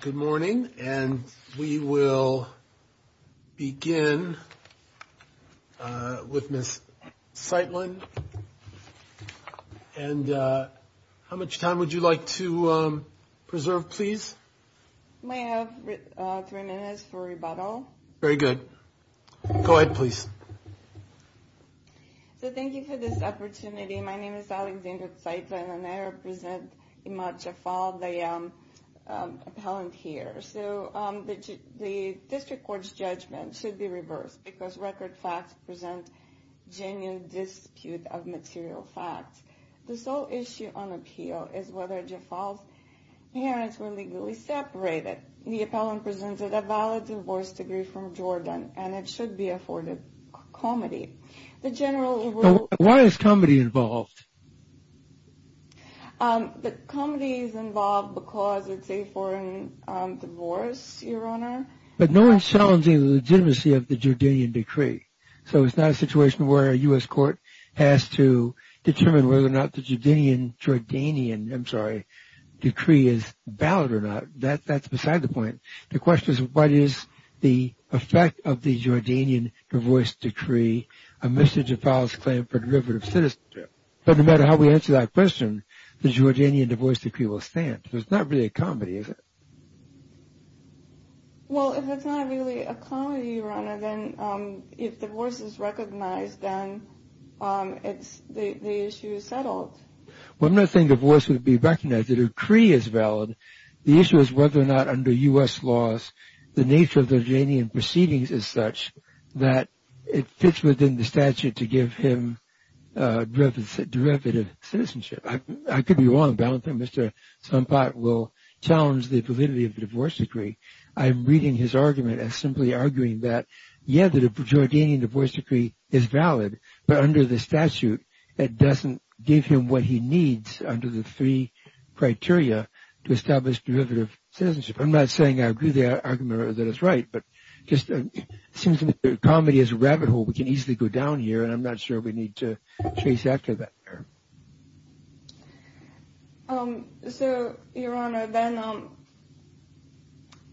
Good morning, and we will begin with Ms. Zeitlin. And how much time would you like to preserve, please? I have three minutes for rebuttal. Very good. Go ahead, please. Thank you for this opportunity. My name is Alexandra Zeitlin, and I represent Imad Jaffal, the appellant here. The district court's judgment should be reversed because record facts present genuine dispute of material facts. The sole issue on appeal is whether Jaffal's parents were legally separated. The appellant presented a valid divorce degree from Jordan, and it should be afforded comity. Why is comity involved? Comity is involved because it's a foreign divorce, Your Honor. But no one's challenging the legitimacy of the Jordanian decree. So it's not a situation where a U.S. court has to determine whether or not the Jordanian decree is valid or not. That's beside the point. The question is, what is the effect of the Jordanian divorce decree? A mission to file this claim for derivative citizenship. But no matter how we answer that question, the Jordanian divorce decree will stand. So it's not really a comity, is it? Well, if it's not really a comity, Your Honor, then if divorce is recognized, then the issue is settled. Well, I'm not saying divorce would be recognized. The decree is valid. The issue is whether or not under U.S. laws the nature of the Jordanian proceedings is such that it fits within the statute to give him derivative citizenship. I could be wrong, but I don't think Mr. Sonpat will challenge the validity of the divorce decree. I'm reading his argument as simply arguing that, yeah, the Jordanian divorce decree is valid, but under the statute it doesn't give him what he needs under the three criteria to establish derivative citizenship. I'm not saying I agree with the argument or that it's right, but it seems to me that comity is a rabbit hole. We can easily go down here, and I'm not sure we need to chase after that. So, Your Honor, then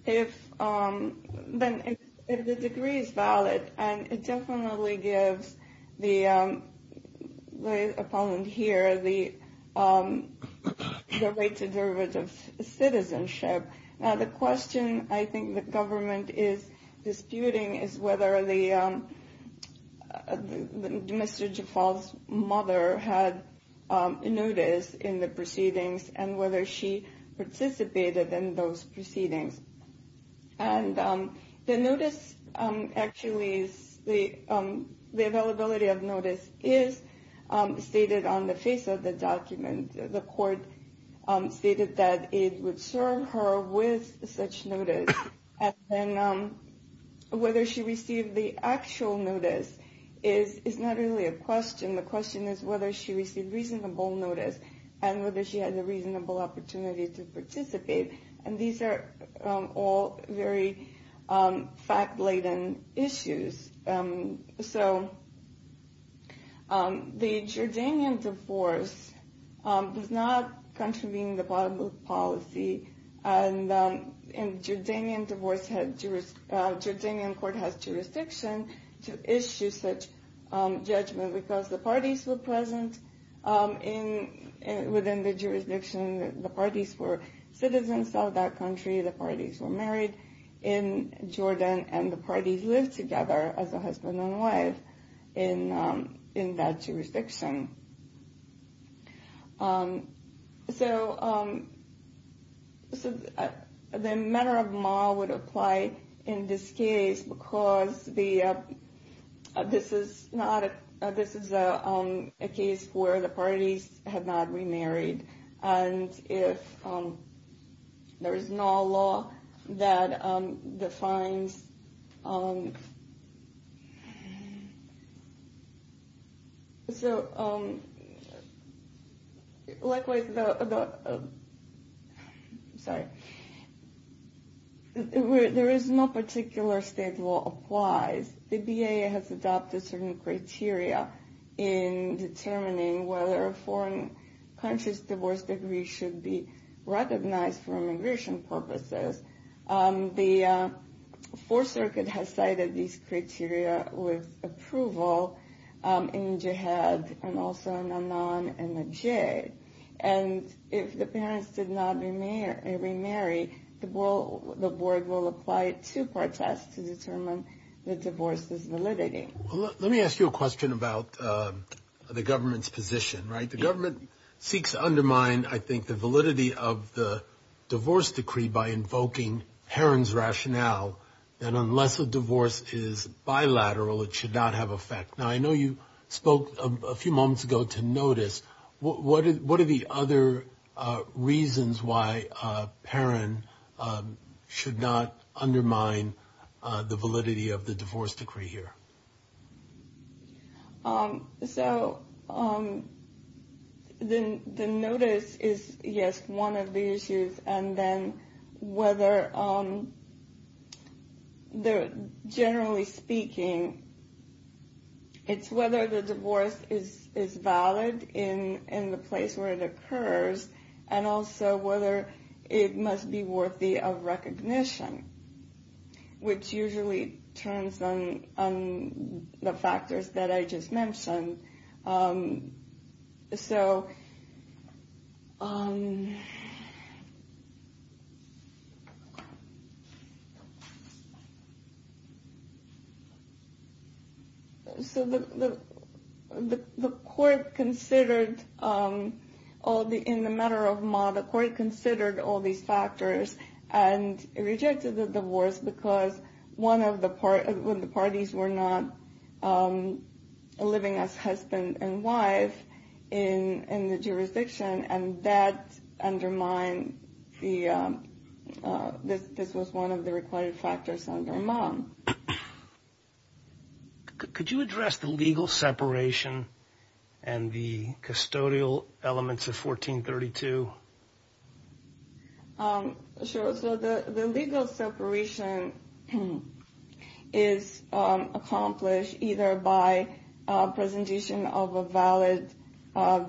if the decree is valid and it definitely gives the opponent here the right to derivative citizenship, now the question I think the government is disputing is whether Mr. Jafal's mother had notice in the proceedings and whether she participated in those proceedings. And the availability of notice is stated on the face of the document. The court stated that it would serve her with such notice. And then whether she received the actual notice is not really a question. The question is whether she received reasonable notice and whether she had a reasonable opportunity to participate. And these are all very fact-laden issues. So the Jordanian divorce does not contravene the public policy. And the Jordanian court has jurisdiction to issue such judgment because the parties were present within the jurisdiction. The parties were citizens of that country. The parties were married in Jordan, and the parties lived together as a husband and wife in that jurisdiction. So the manner of moral would apply in this case because this is a case where the parties have not remarried. And if there is no law that defines, so like with the, sorry, there is no particular state law applies. The BIA has adopted certain criteria in determining whether a foreign country's divorce degree should be recognized for immigration purposes. The Fourth Circuit has cited these criteria with approval in Jihad and also in Anan and Najj. And if the parents did not remarry, the board will apply it to protests to determine the divorce's validity. Let me ask you a question about the government's position, right? The government seeks to undermine, I think, the validity of the divorce decree by invoking Heron's rationale that unless a divorce is bilateral, it should not have effect. Now, I know you spoke a few moments ago to notice. What are the other reasons why Heron should not undermine the validity of the divorce decree here? So the notice is, yes, one of the issues. And then whether, generally speaking, it's whether the divorce is valid in the place where it occurs and also whether it must be worthy of recognition. Which usually turns on the factors that I just mentioned. So the court considered, in the matter of Ma, the court considered all these factors and rejected the divorce because one of the parties were not living as husband and wife. In the jurisdiction and that undermined the, this was one of the required factors under Ma. Could you address the legal separation and the custodial elements of 1432? Sure. So the legal separation is accomplished either by presentation of a valid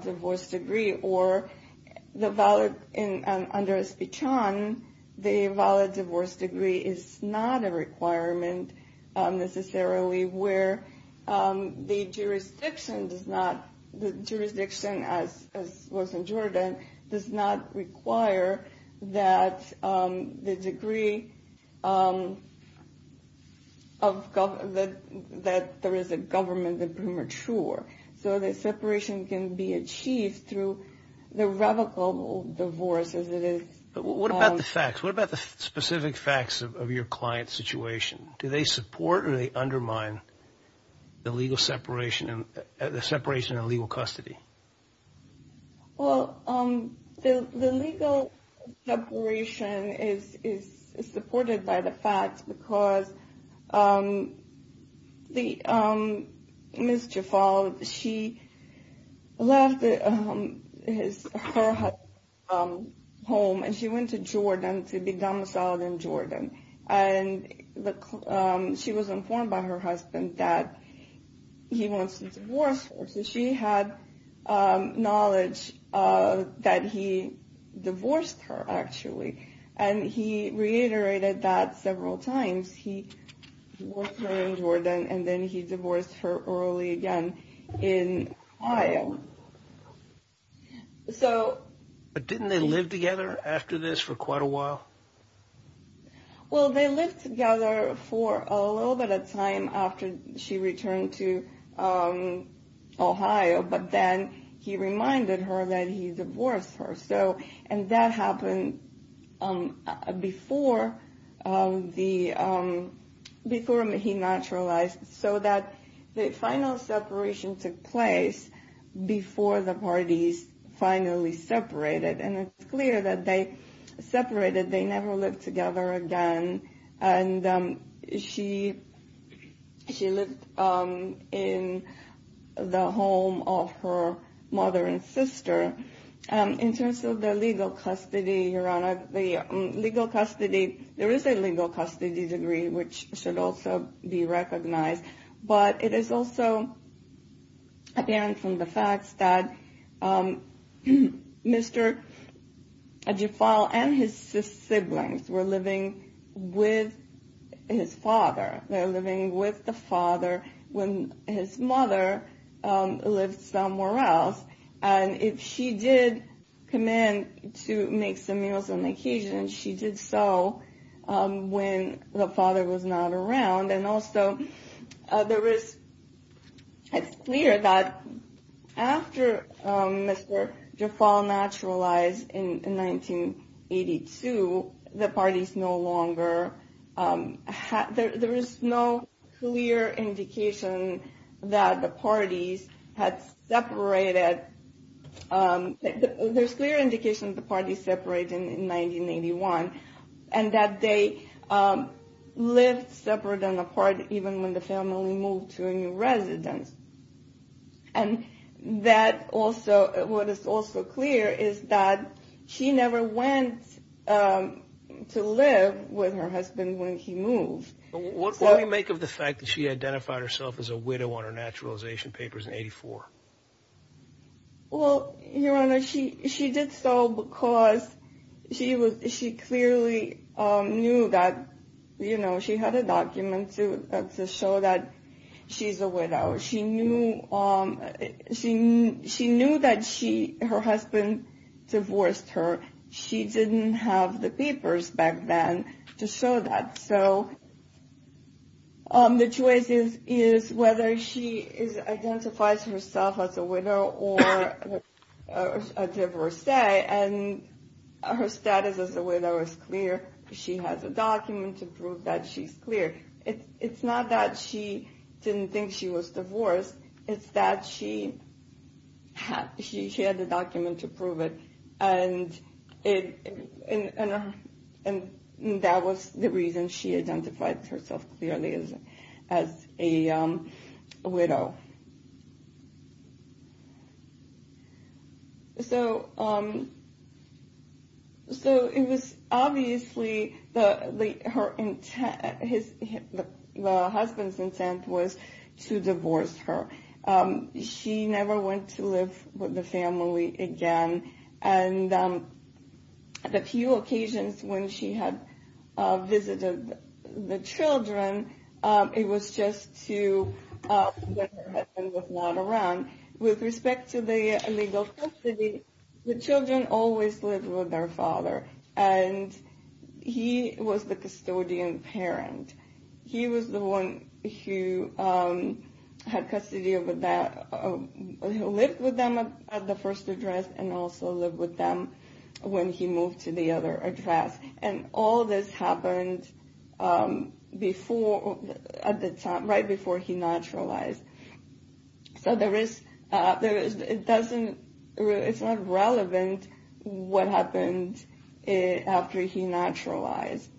divorce decree or the valid, under SPCHAN, the valid divorce decree is not a requirement necessarily where the jurisdiction does not, the jurisdiction as was in Jordan does not require that the decree of, that there is a government that premature. So the separation can be achieved through the revocable divorce as it is. But what about the facts? What about the specific facts of your client's situation? Do they support or they undermine the legal separation and the separation of legal custody? Well, the legal separation is supported by the facts because the, Ms. Jafal, she left her home and she went to Jordan to be domiciled in Jordan. And she was informed by her husband that he wants to divorce her. So she had knowledge that he divorced her actually. And he reiterated that several times. He divorced her in Jordan and then he divorced her early again in Ohio. So. But didn't they live together after this for quite a while? Well, they lived together for a little bit of time after she returned to Ohio, but then he reminded her that he divorced her. So, and that happened before the, before he naturalized. So that the final separation took place before the parties finally separated. And it's clear that they separated. They never lived together again. And she, she lived in the home of her mother and sister. In terms of the legal custody, Your Honor, the legal custody, there is a legal custody degree, which should also be recognized. But it is also apparent from the facts that Mr. Jafal and his siblings were living with his father. They were living with the father when his mother lived somewhere else. And if she did come in to make some meals on occasion, she did so when the father was not around. And also, there is, it's clear that after Mr. Jafal naturalized in 1982, the parties no longer, there is no clear indication that the parties had separated. There's clear indication that the parties separated in 1981. And that they lived separate and apart even when the family moved to a new residence. And that also, what is also clear is that she never went to live with her husband when he moved. What do you make of the fact that she identified herself as a widow on her naturalization papers in 1984? Well, Your Honor, she did so because she clearly knew that, you know, she had a document to show that she's a widow. She knew that her husband divorced her. She didn't have the papers back then to show that. So the choice is whether she identifies herself as a widow or a divorcee. And her status as a widow is clear. She has a document to prove that she's clear. It's not that she didn't think she was divorced. It's that she had the document to prove it. And that was the reason she identified herself clearly as a widow. So it was obviously the husband's intent was to divorce her. She never went to live with the family again. And a few occasions when she had visited the children, it was just to put her husband was not around. With respect to the legal custody, the children always lived with their father. And he was the custodian parent. He was the one who had custody of that. He lived with them at the first address and also lived with them when he moved to the other address. And all this happened right before he naturalized. So it's not relevant what happened after he naturalized.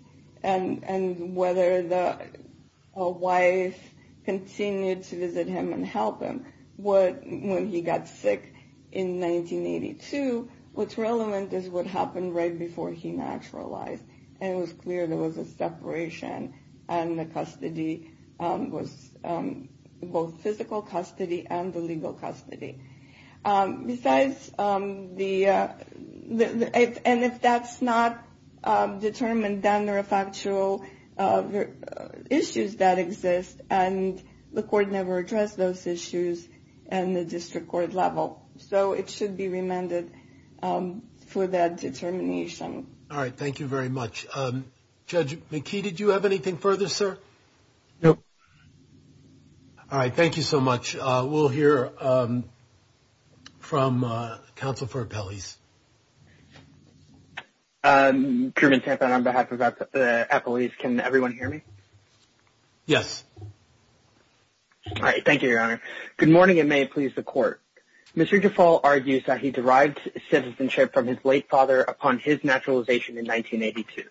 And whether the wife continued to visit him and help him. When he got sick in 1982, what's relevant is what happened right before he naturalized. And it was clear there was a separation. And the custody was both physical custody and the legal custody. And if that's not determined, then there are factual issues that exist. And the court never addressed those issues in the district court level. So it should be remanded for that determination. All right. Thank you very much. Judge McKee, did you have anything further, sir? No. All right. Thank you so much. We'll hear from counsel for appellees. Truman Tampin on behalf of the appellees. Can everyone hear me? Yes. All right. Thank you, Your Honor. Good morning, and may it please the Court. Mr. DeFault argues that he derived citizenship from his late father upon his naturalization in 1982.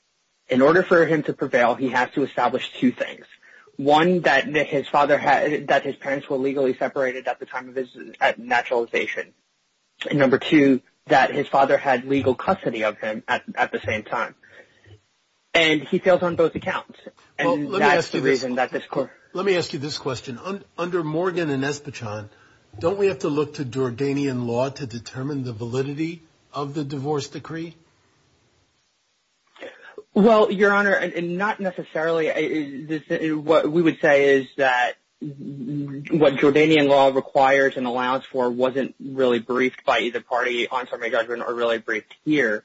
In order for him to prevail, he has to establish two things. One, that his parents were legally separated at the time of his naturalization. And number two, that his father had legal custody of him at the same time. And he fails on both accounts. And that's the reason that this court — Let me ask you this question. Under Morgan and Espichan, don't we have to look to Jordanian law to determine the validity of the divorce decree? Well, Your Honor, not necessarily. What we would say is that what Jordanian law requires and allows for wasn't really briefed by either party on summary judgment or really briefed here.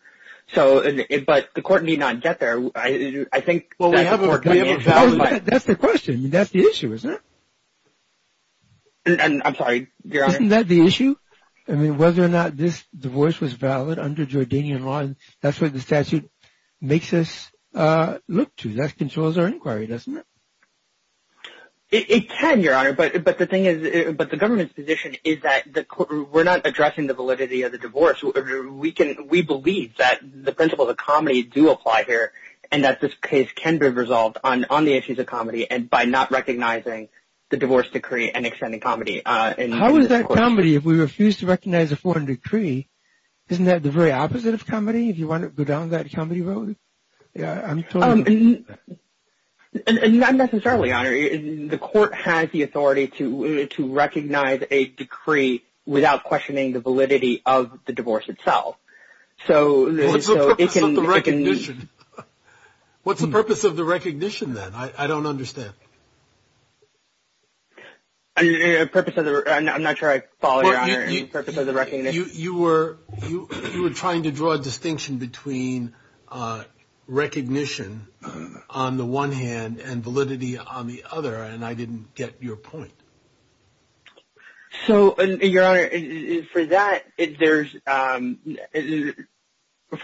But the Court need not get there. I think that the Court — That's the question. That's the issue, isn't it? I'm sorry, Your Honor. Isn't that the issue? I mean, whether or not this divorce was valid under Jordanian law, that's what the statute makes us look to. That controls our inquiry, doesn't it? It can, Your Honor. But the thing is — but the government's position is that we're not addressing the validity of the divorce. We believe that the principles of comedy do apply here and that this case can be resolved on the issues of comedy and by not recognizing the divorce decree and extending comedy. How is that comedy if we refuse to recognize a foreign decree? Isn't that the very opposite of comedy if you want to go down that comedy road? Yeah, I'm totally — And not necessarily, Your Honor. The Court has the authority to recognize a decree without questioning the validity of the divorce itself. So it can — What's the purpose of the recognition? What's the purpose of the recognition then? I don't understand. Yeah. The purpose of the — I'm not sure I follow, Your Honor, the purpose of the recognition. You were trying to draw a distinction between recognition on the one hand and validity on the other, and I didn't get your point. So, Your Honor, for that, there's —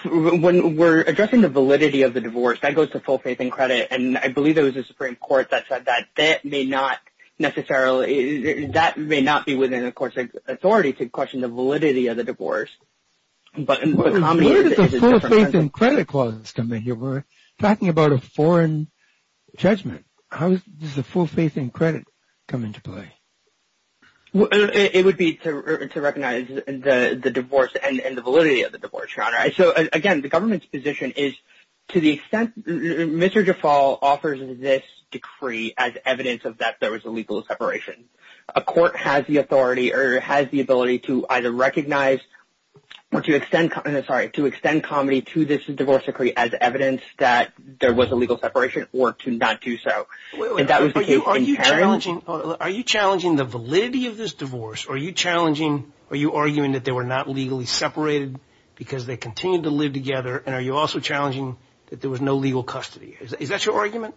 when we're addressing the validity of the divorce, that goes to full faith and credit. And I believe there was a Supreme Court that said that that may not necessarily — that may not be within the Court's authority to question the validity of the divorce. But comedy is a different — Where did the full faith and credit clauses come in here? We're talking about a foreign judgment. How does the full faith and credit come into play? It would be to recognize the divorce and the validity of the divorce, Your Honor. So, again, the government's position is to the extent — Mr. DeFault offers this decree as evidence of that there was a legal separation. A court has the authority or has the ability to either recognize or to extend — sorry, to extend comedy to this divorce decree as evidence that there was a legal separation or to not do so. And that was the case in Paris. Are you challenging the validity of this divorce? Are you challenging — are you arguing that they were not legally separated because they continued to live together? And are you also challenging that there was no legal custody? Is that your argument?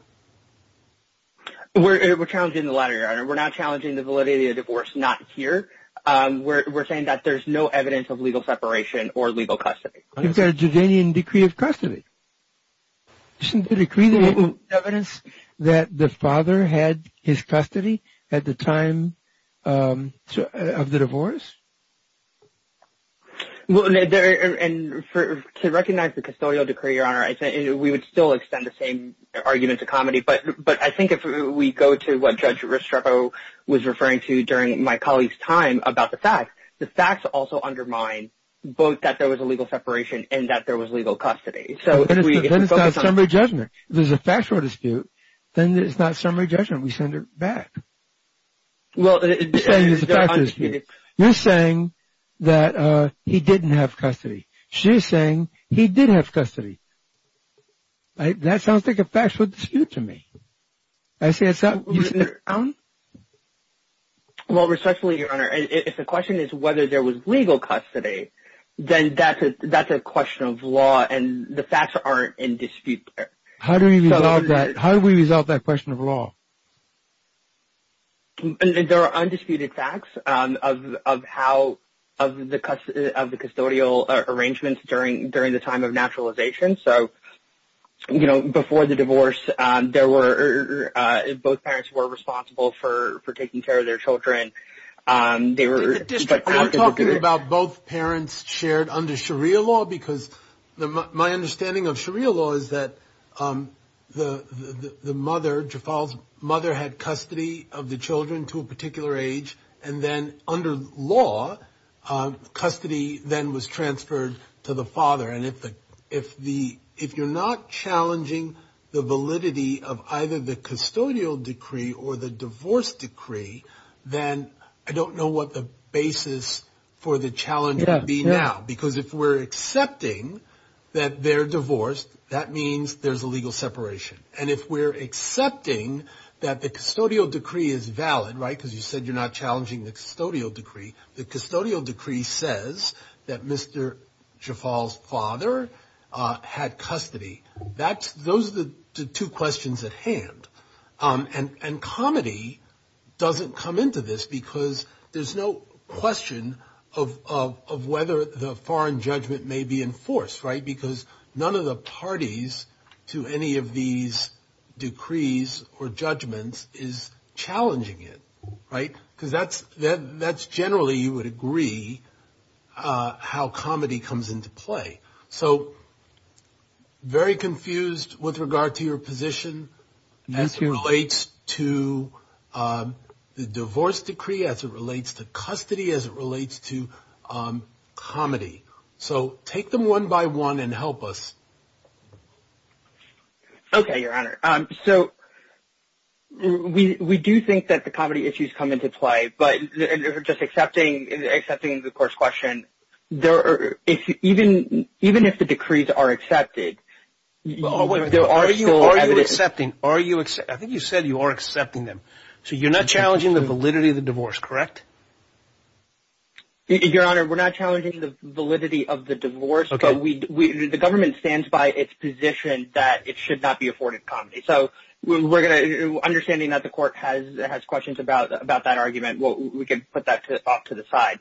We're challenging the latter, Your Honor. We're not challenging the validity of the divorce not here. We're saying that there's no evidence of legal separation or legal custody. It's a Judean decree of custody. Isn't the decree the evidence that the father had his custody at the time of the divorce? Well, and to recognize the custodial decree, Your Honor, we would still extend the same argument to comedy. But I think if we go to what Judge Restrepo was referring to during my colleague's time about the facts, the facts also undermine both that there was a legal separation and that there was legal custody. Then it's not summary judgment. If there's a factual dispute, then it's not summary judgment. We send her back. We're saying there's a factual dispute. You're saying that he didn't have custody. She's saying he did have custody. That sounds like a factual dispute to me. Mr. Allen? Well, respectfully, Your Honor, if the question is whether there was legal custody, then that's a question of law, and the facts aren't in dispute there. How do we resolve that question of law? There are undisputed facts of how the custodial arrangements during the time of naturalization. Before the divorce, both parents were responsible for taking care of their children. Are you talking about both parents shared under Sharia law? Because my understanding of Sharia law is that the mother, Jafal's mother, had custody of the children to a particular age, and then under law, custody then was transferred to the father. If you're not challenging the validity of either the custodial decree or the divorce decree, then I don't know what the basis for the challenge would be now. Because if we're accepting that they're divorced, that means there's a legal separation. And if we're accepting that the custodial decree is valid, right, because you said you're not challenging the custodial decree, the custodial decree says that Mr. Jafal's father had custody. Those are the two questions at hand. And comedy doesn't come into this because there's no question of whether the foreign judgment may be enforced, right, because none of the parties to any of these decrees or judgments is challenging it, right, because that's generally you would agree how comedy comes into play. So very confused with regard to your position as it relates to the divorce decree, as it relates to custody, as it relates to comedy. So take them one by one and help us. Okay, Your Honor. So we do think that the comedy issues come into play. But just accepting the first question, even if the decrees are accepted, there are still evidence. Are you accepting? I think you said you are accepting them. So you're not challenging the validity of the divorce, correct? Your Honor, we're not challenging the validity of the divorce, but the government stands by its position that it should not be afforded comedy. So understanding that the court has questions about that argument, we can put that off to the side.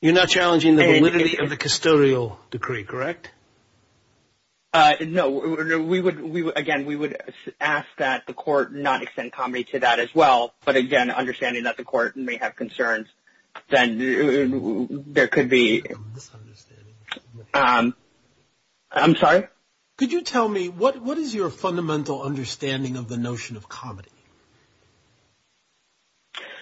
You're not challenging the validity of the custodial decree, correct? No. Again, we would ask that the court not extend comedy to that as well. But, again, understanding that the court may have concerns, then there could be – I'm sorry? Could you tell me what is your fundamental understanding of the notion of comedy?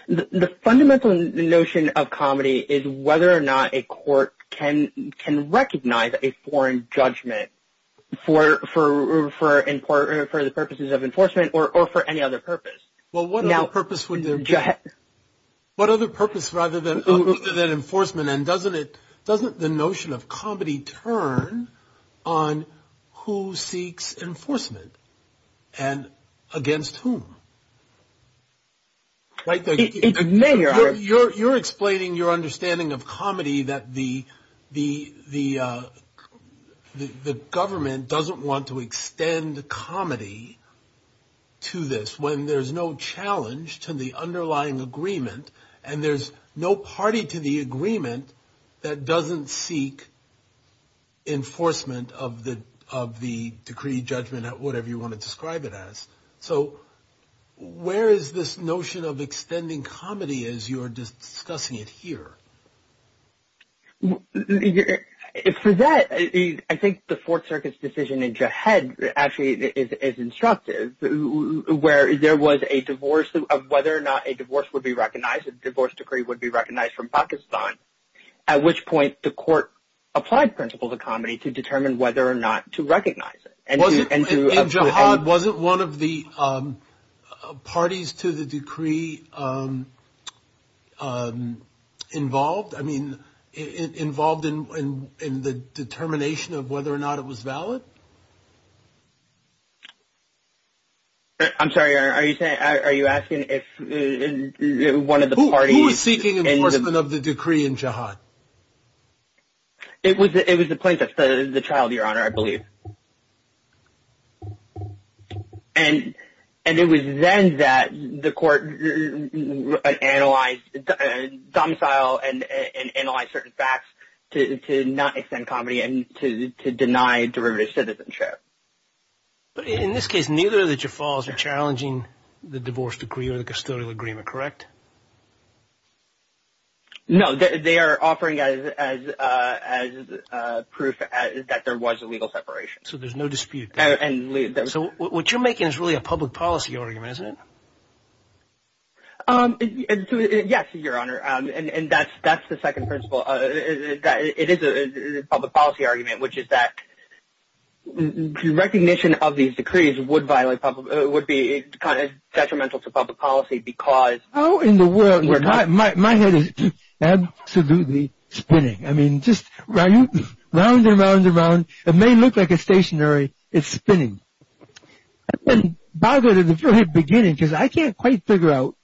The fundamental notion of comedy is whether or not a court can recognize a foreign judgment for the purposes of enforcement or for any other purpose. Well, what other purpose would there be? What other purpose rather than enforcement? And doesn't the notion of comedy turn on who seeks enforcement and against whom? It may, Your Honor. You're explaining your understanding of comedy that the government doesn't want to extend comedy to this when there's no challenge to the underlying agreement, and there's no party to the agreement that doesn't seek enforcement of the decree, judgment, or whatever you want to describe it as. So where is this notion of extending comedy as you're discussing it here? For that, I think the Fourth Circuit's decision in Jihad actually is instructive, where there was a divorce of whether or not a divorce would be recognized, a divorce decree would be recognized from Pakistan, at which point the court applied principles of comedy to determine whether or not to recognize it. In Jihad, wasn't one of the parties to the decree involved? I mean, involved in the determination of whether or not it was valid? I'm sorry. Are you asking if one of the parties? It was the plaintiff, the child, Your Honor, I believe. And it was then that the court analyzed, domiciled and analyzed certain facts to not extend comedy and to deny derivative citizenship. But in this case, neither of the Jafals are challenging the divorce decree or the custodial agreement, correct? No. They are offering as proof that there was a legal separation. So there's no dispute. So what you're making is really a public policy argument, isn't it? Yes, Your Honor, and that's the second principle. It is a public policy argument, which is that recognition of these decrees would be kind of detrimental to public policy because how in the world? My head is absolutely spinning. I mean, just round and round and round. It may look like a stationary. It's spinning. I've been bothered in the very beginning because I can't quite figure out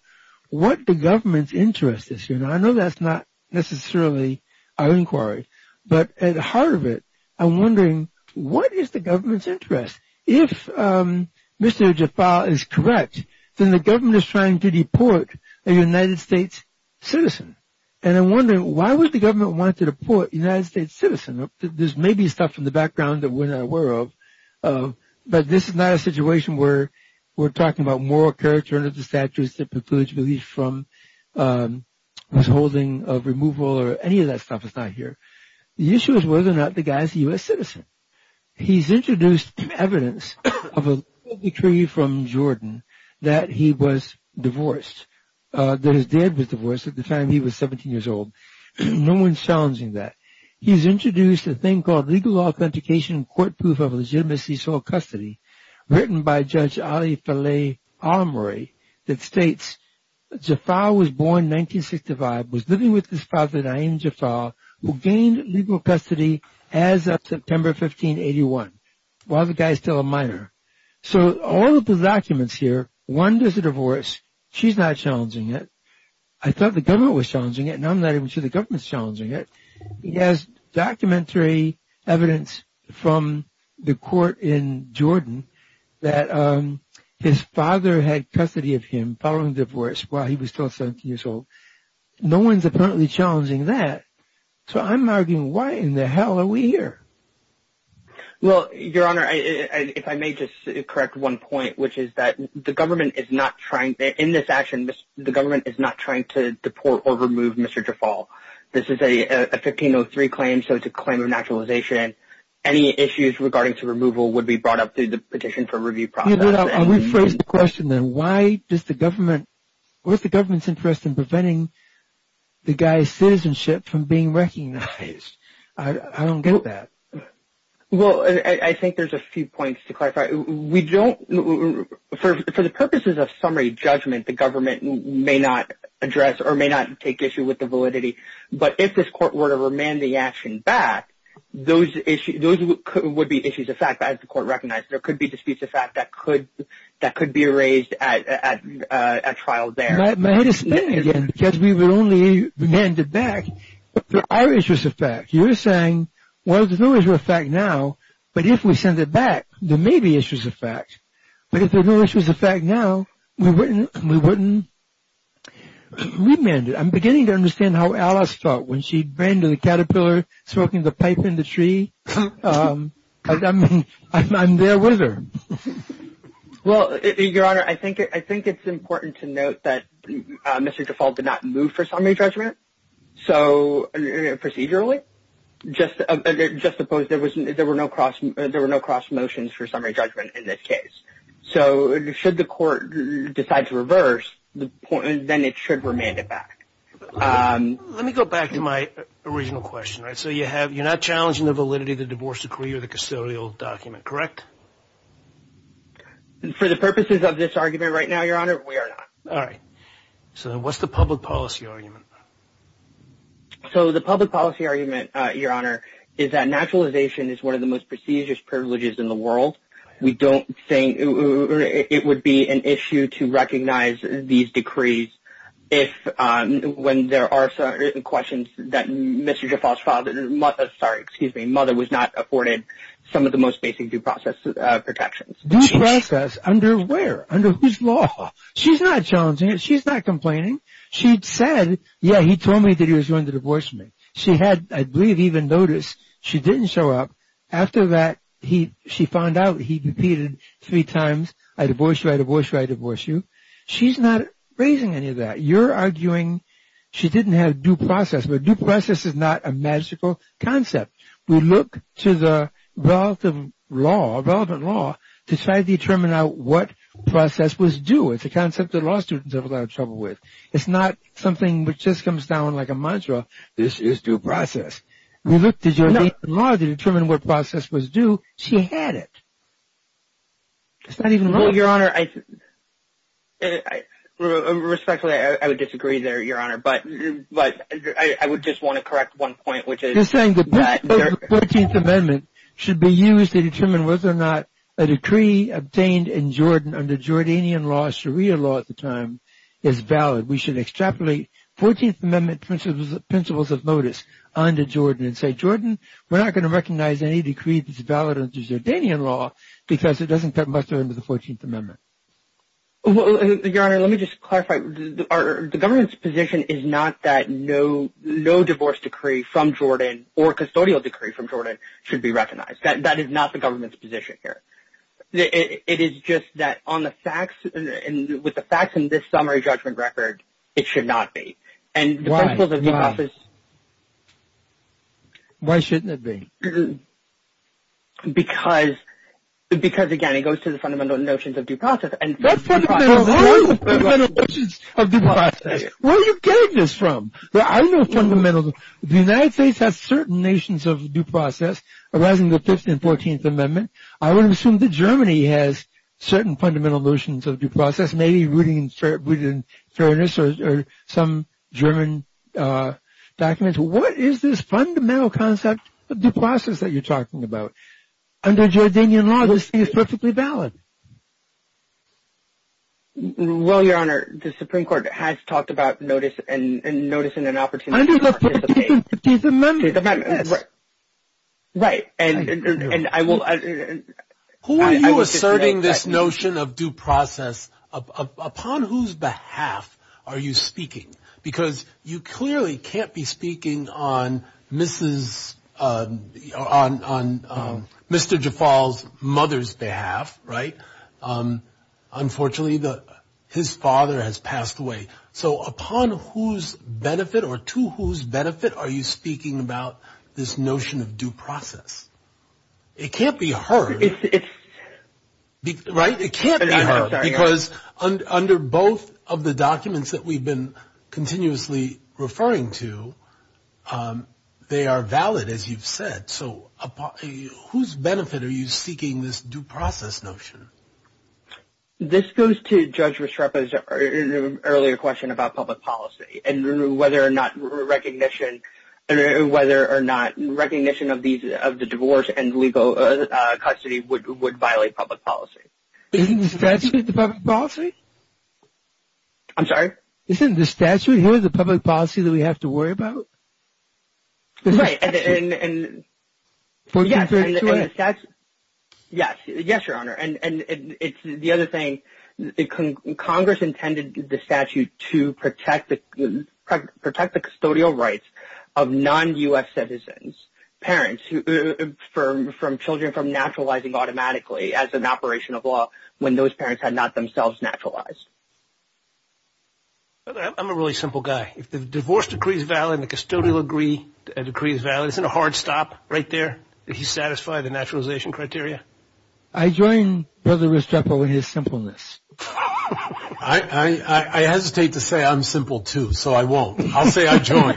what the government's interest is. I know that's not necessarily our inquiry, but at the heart of it, I'm wondering, what is the government's interest? If Mr. Jafal is correct, then the government is trying to deport a United States citizen. And I'm wondering, why would the government want to deport a United States citizen? This may be stuff from the background that we're not aware of, but this is not a situation where we're talking about moral character under the statutes that precludes relief from withholding of removal or any of that stuff that's not here. The issue is whether or not the guy is a U.S. citizen. He's introduced evidence of a decree from Jordan that he was divorced, that his dad was divorced at the time he was 17 years old. No one's challenging that. He's introduced a thing called Legal Authentication and Court Proof of Legitimacy Soil Custody written by Judge Ali Faleh Alamuri that states that Jafal was born in 1965, was living with his father, Naim Jafal, who gained legal custody as of September 15, 1881, while the guy is still a minor. So all of the documents here, one, there's a divorce. She's not challenging it. I thought the government was challenging it, and now I'm not even sure the government's challenging it. He has documentary evidence from the court in Jordan that his father had custody of him following the divorce while he was still 17 years old. No one's apparently challenging that. So I'm arguing why in the hell are we here? Well, Your Honor, if I may just correct one point, which is that the government is not trying – in this action, the government is not trying to deport or remove Mr. Jafal. This is a 1503 claim, so it's a claim of naturalization. Any issues regarding to removal would be brought up through the petition for review process. Yeah, but I'll rephrase the question then. Why is the government's interest in preventing the guy's citizenship from being recognized? I don't get that. For the purposes of summary judgment, the government may not address or may not take issue with the validity. But if this court were to remand the action back, those would be issues of fact, as the court recognized. There could be disputes of fact that could be raised at trial there. May I just say again, because we would only remand it back if the Irish was a fact. You're saying, well, there's no issue of fact now, but if we send it back, there may be issues of fact. But if there's no issues of fact now, we wouldn't remand it. I'm beginning to understand how Alice felt when she ran to the caterpillar smoking the pipe in the tree. I mean, I'm there with her. Well, Your Honor, I think it's important to note that Mr. Default did not move for summary judgment procedurally. Just suppose there were no cross motions for summary judgment in this case. So should the court decide to reverse, then it should remand it back. Let me go back to my original question. So you're not challenging the validity of the divorce decree or the custodial document, correct? For the purposes of this argument right now, Your Honor, we are not. All right. So what's the public policy argument? So the public policy argument, Your Honor, is that naturalization is one of the most prestigious privileges in the world. We don't think it would be an issue to recognize these decrees if when there are certain questions that Mr. Default's mother was not afforded some of the most basic due process protections. Due process under where? Under whose law? She's not challenging it. She's not complaining. She said, yeah, he told me that he was going to divorce me. She had, I believe, even noticed she didn't show up. After that, she found out he repeated three times, I divorce you, I divorce you, I divorce you. She's not raising any of that. You're arguing she didn't have due process. But due process is not a magical concept. We look to the relevant law to try to determine now what process was due. It's a concept that law students have a lot of trouble with. It's not something which just comes down like a mantra, this is due process. We look to Jordanian law to determine what process was due. She had it. It's not even relevant. Well, Your Honor, respectfully, I would disagree there, Your Honor, but I would just want to correct one point, which is that You're saying the 14th Amendment should be used to determine whether or not a decree obtained in Jordan under Jordanian law, Sharia law at the time, is valid. We should extrapolate 14th Amendment principles of notice under Jordan and say, Jordan, we're not going to recognize any decree that's valid under Jordanian law because it doesn't cut much into the 14th Amendment. Your Honor, let me just clarify. The government's position is not that no divorce decree from Jordan or custodial decree from Jordan should be recognized. That is not the government's position here. It is just that on the facts, with the facts in this summary judgment record, it should not be. And the principles of due process... Why? Why shouldn't it be? Because, again, it goes to the fundamental notions of due process. What fundamental notions of due process? Where are you getting this from? The United States has certain notions of due process arising in the 15th and 14th Amendment. I would assume that Germany has certain fundamental notions of due process, maybe rooted in fairness or some German documents. What is this fundamental concept of due process that you're talking about? Under Jordanian law, this is perfectly valid. Well, Your Honor, the Supreme Court has talked about notice and notice in an opportunity... Under the 15th Amendment, yes. Right, and I will... Who are you asserting this notion of due process? Upon whose behalf are you speaking? Because you clearly can't be speaking on Mr. Jaffal's mother's behalf, right? Unfortunately, his father has passed away. So upon whose benefit or to whose benefit are you speaking about this notion of due process? It can't be heard, right? It can't be heard because under both of the documents that we've been continuously referring to, they are valid, as you've said. So upon whose benefit are you seeking this due process notion? This goes to Judge Restrepo's earlier question about public policy and whether or not recognition of the divorce and legal custody would violate public policy. Isn't the statute the public policy? I'm sorry? Isn't the statute here the public policy that we have to worry about? Right, and the statute... Yes, Your Honor. It's the other thing. Congress intended the statute to protect the custodial rights of non-U.S. citizens, parents, from children from naturalizing automatically as an operation of law when those parents had not themselves naturalized. I'm a really simple guy. If the divorce decree is valid and the custodial decree is valid, isn't a hard stop right there? Does he satisfy the naturalization criteria? I join Brother Restrepo in his simpleness. I hesitate to say I'm simple, too, so I won't. I'll say I join.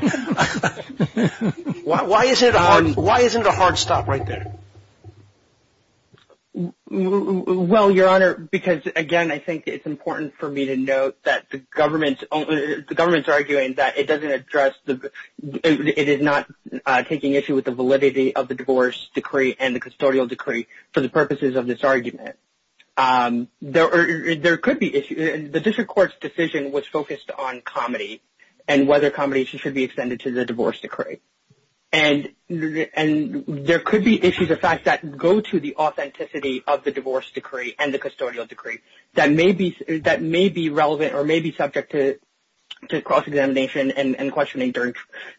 Why isn't a hard stop right there? Well, Your Honor, because, again, I think it's important for me to note that the government's arguing that it doesn't address it is not taking issue with the validity of the divorce decree and the custodial decree for the purposes of this argument. There could be issues. The district court's decision was focused on comedy and whether comedy should be extended to the divorce decree. And there could be issues of fact that go to the authenticity of the divorce decree and the custodial decree that may be relevant or may be subject to cross-examination and questioning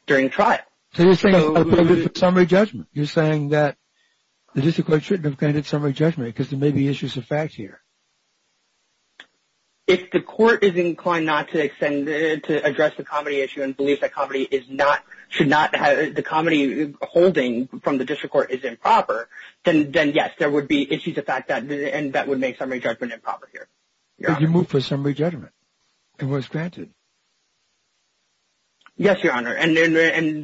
during trial. So you're saying it's a summary judgment. You're saying that the district court shouldn't have granted summary judgment because there may be issues of fact here. If the court is inclined not to extend it to address the comedy issue and believes that comedy is not – should not – the comedy holding from the district court is improper, then, yes, there would be issues of fact that would make summary judgment improper here. But you moved for summary judgment. It was granted. Yes, Your Honor. And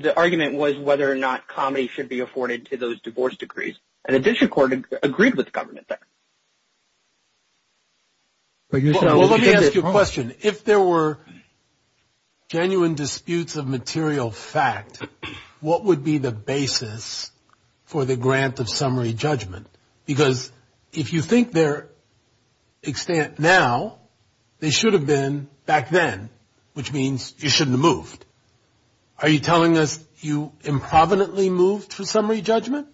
the argument was whether or not comedy should be afforded to those divorce decrees. And the district court agreed with the government there. Well, let me ask you a question. If there were genuine disputes of material fact, what would be the basis for the grant of summary judgment? Because if you think their extent now, they should have been back then, which means you shouldn't have moved. Are you telling us you improvidently moved for summary judgment?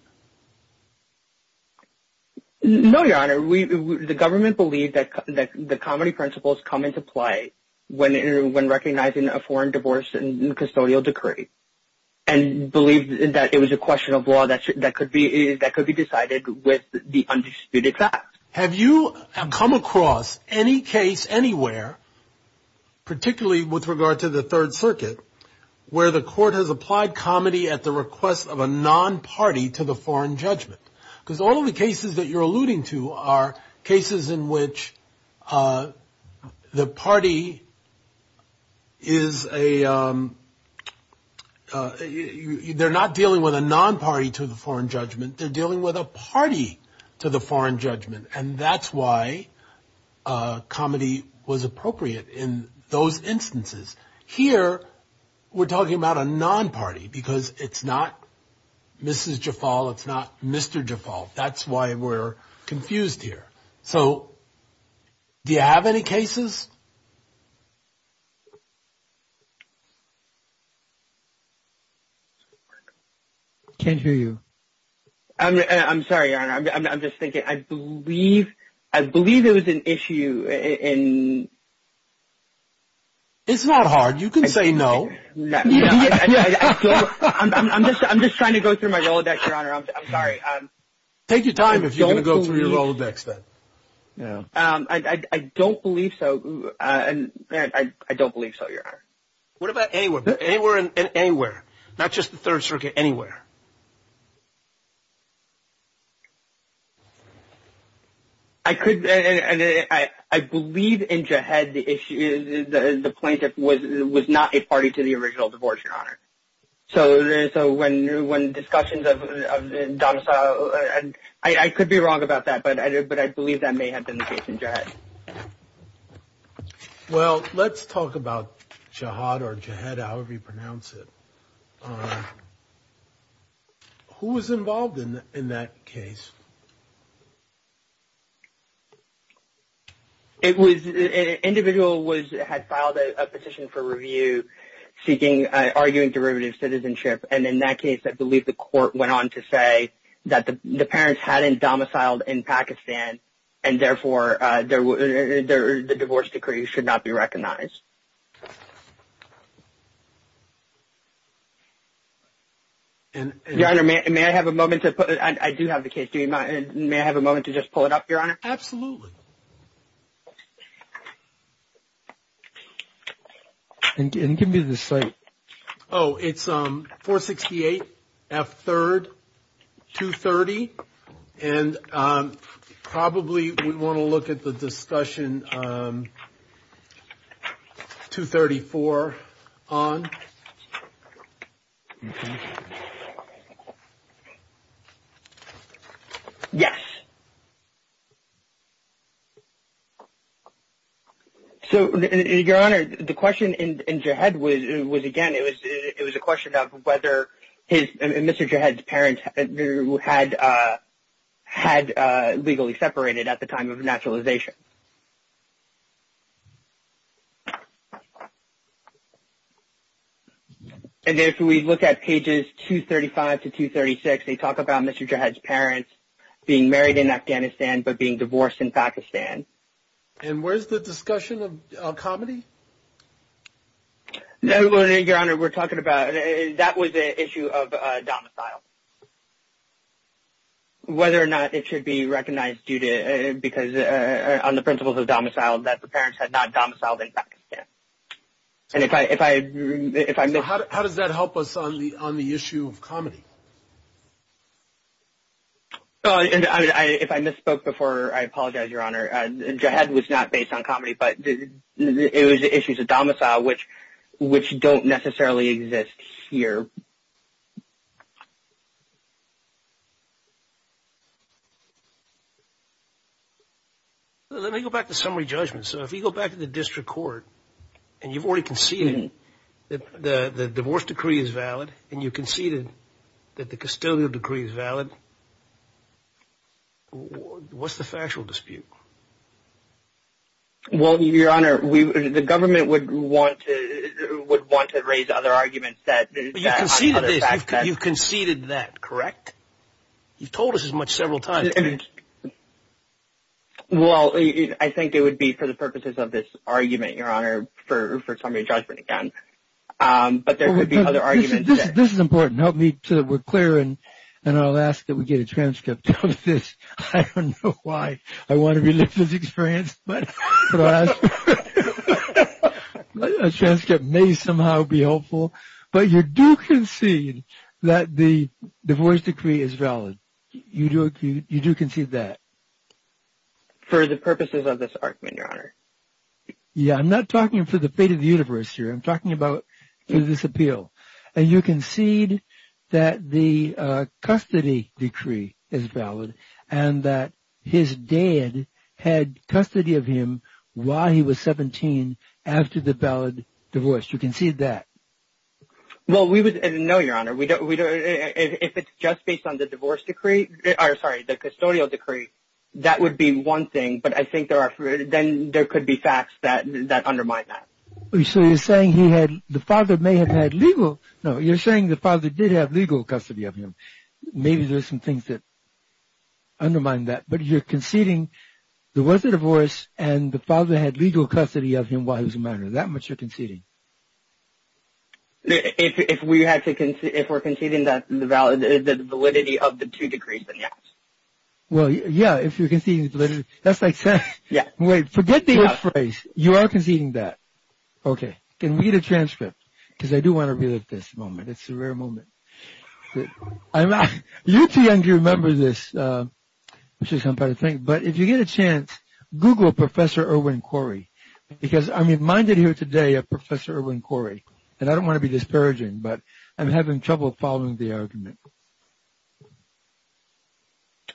No, Your Honor. The government believed that the comedy principles come into play when recognizing a foreign divorce and custodial decree and believed that it was a question of law that could be decided with the undisputed fact. Have you come across any case anywhere, particularly with regard to the Third Circuit, where the court has applied comedy at the request of a non-party to the foreign judgment? Because all of the cases that you're alluding to are cases in which the party is a they're not dealing with a non-party to the foreign judgment. They're dealing with a party to the foreign judgment. And that's why comedy was appropriate in those instances. Here we're talking about a non-party because it's not Mrs. Jafal. It's not Mr. Jafal. That's why we're confused here. So do you have any cases? Can't hear you. I'm sorry, Your Honor. I'm just thinking. I believe it was an issue. It's not hard. You can say no. I'm just trying to go through my Rolodex, Your Honor. I'm sorry. Take your time if you're going to go through your Rolodex, then. I don't believe so. I don't believe so, Your Honor. What about anywhere? Anywhere and anywhere. Not just the Third Circuit. Anywhere. I could and I believe in Jahed the plaintiff was not a party to the original divorce, Your Honor. So when discussions of Donasau, I could be wrong about that, but I believe that may have been the case in Jahed. Well, let's talk about Jahad or Jahed, however you pronounce it. Who was involved in that case? An individual had filed a petition for review arguing derivative citizenship, and in that case I believe the court went on to say that the parents hadn't domiciled in Pakistan and therefore the divorce decree should not be recognized. Your Honor, may I have a moment to just pull it up, Your Honor? Absolutely. Give me the site. Oh, it's 468 F. 3rd, 230, and probably we want to look at the discussion 234 on. Yes. So, Your Honor, the question in Jahed was, again, it was a question of whether Mr. Jahed's parents had legally separated at the time of naturalization. And if we look at pages 235 to 236, they talk about Mr. Jahed's parents being married in Afghanistan but being divorced in Pakistan. And where's the discussion of comedy? Well, Your Honor, we're talking about that was an issue of domicile, whether or not it should be recognized on the principles of domicile that the parents had not domiciled in Pakistan. So how does that help us on the issue of comedy? If I misspoke before, I apologize, Your Honor. Jahed was not based on comedy, but it was an issue of domicile, which don't necessarily exist here. Let me go back to summary judgment. So if you go back to the district court and you've already conceded that the divorce decree is valid and you conceded that the custodial decree is valid, what's the factual dispute? Well, Your Honor, the government would want to raise other arguments. But you conceded this. You conceded that, correct? You've told us as much several times. Well, I think it would be for the purposes of this argument, Your Honor, for summary judgment again. But there could be other arguments. This is important. Help me so that we're clear, and I'll ask that we get a transcript of this. I don't know why I want to relive this experience. But a transcript may somehow be helpful. But you do concede that the divorce decree is valid. You do concede that. For the purposes of this argument, Your Honor. Yeah, I'm not talking for the fate of the universe here. I'm talking about through this appeal. And you conceded that the custody decree is valid and that his dad had custody of him while he was 17 after the valid divorce. You conceded that. Well, we would – no, Your Honor. If it's just based on the divorce decree – or, sorry, the custodial decree, that would be one thing. But I think there are – then there could be facts that undermine that. So you're saying he had – the father may have had legal – no, you're saying the father did have legal custody of him. Maybe there's some things that undermine that. But you're conceding there was a divorce and the father had legal custody of him while he was a minor. Is that what you're conceding? If we're conceding that the validity of the two decrees, then yes. Well, yeah, if you're conceding validity – that's like saying – wait, forget the if phrase. You are conceding that. Okay. Can we get a transcript? Because I do want to relive this moment. It's a rare moment. I'm not – you're too young to remember this. But if you get a chance, Google Professor Irwin Corey. Because I'm reminded here today of Professor Irwin Corey. And I don't want to be disparaging, but I'm having trouble following the argument.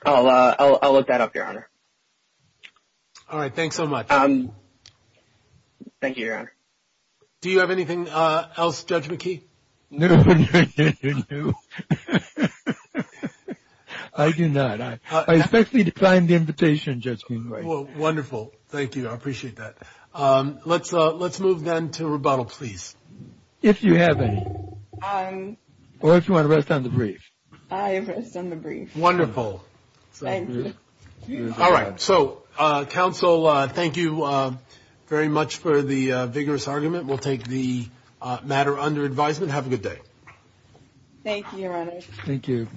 I'll look that up, Your Honor. All right. Thanks so much. Thank you, Your Honor. Do you have anything else, Judge McKee? No. I do not. I especially declined the invitation, Judge Kingbright. Wonderful. Thank you. I appreciate that. Let's move then to rebuttal, please. If you have any. Or if you want to rest on the brief. I rest on the brief. Wonderful. Thank you. All right. So, counsel, thank you very much for the vigorous argument. We'll take the matter under advisement. Have a good day. Thank you, Your Honor. Thank you.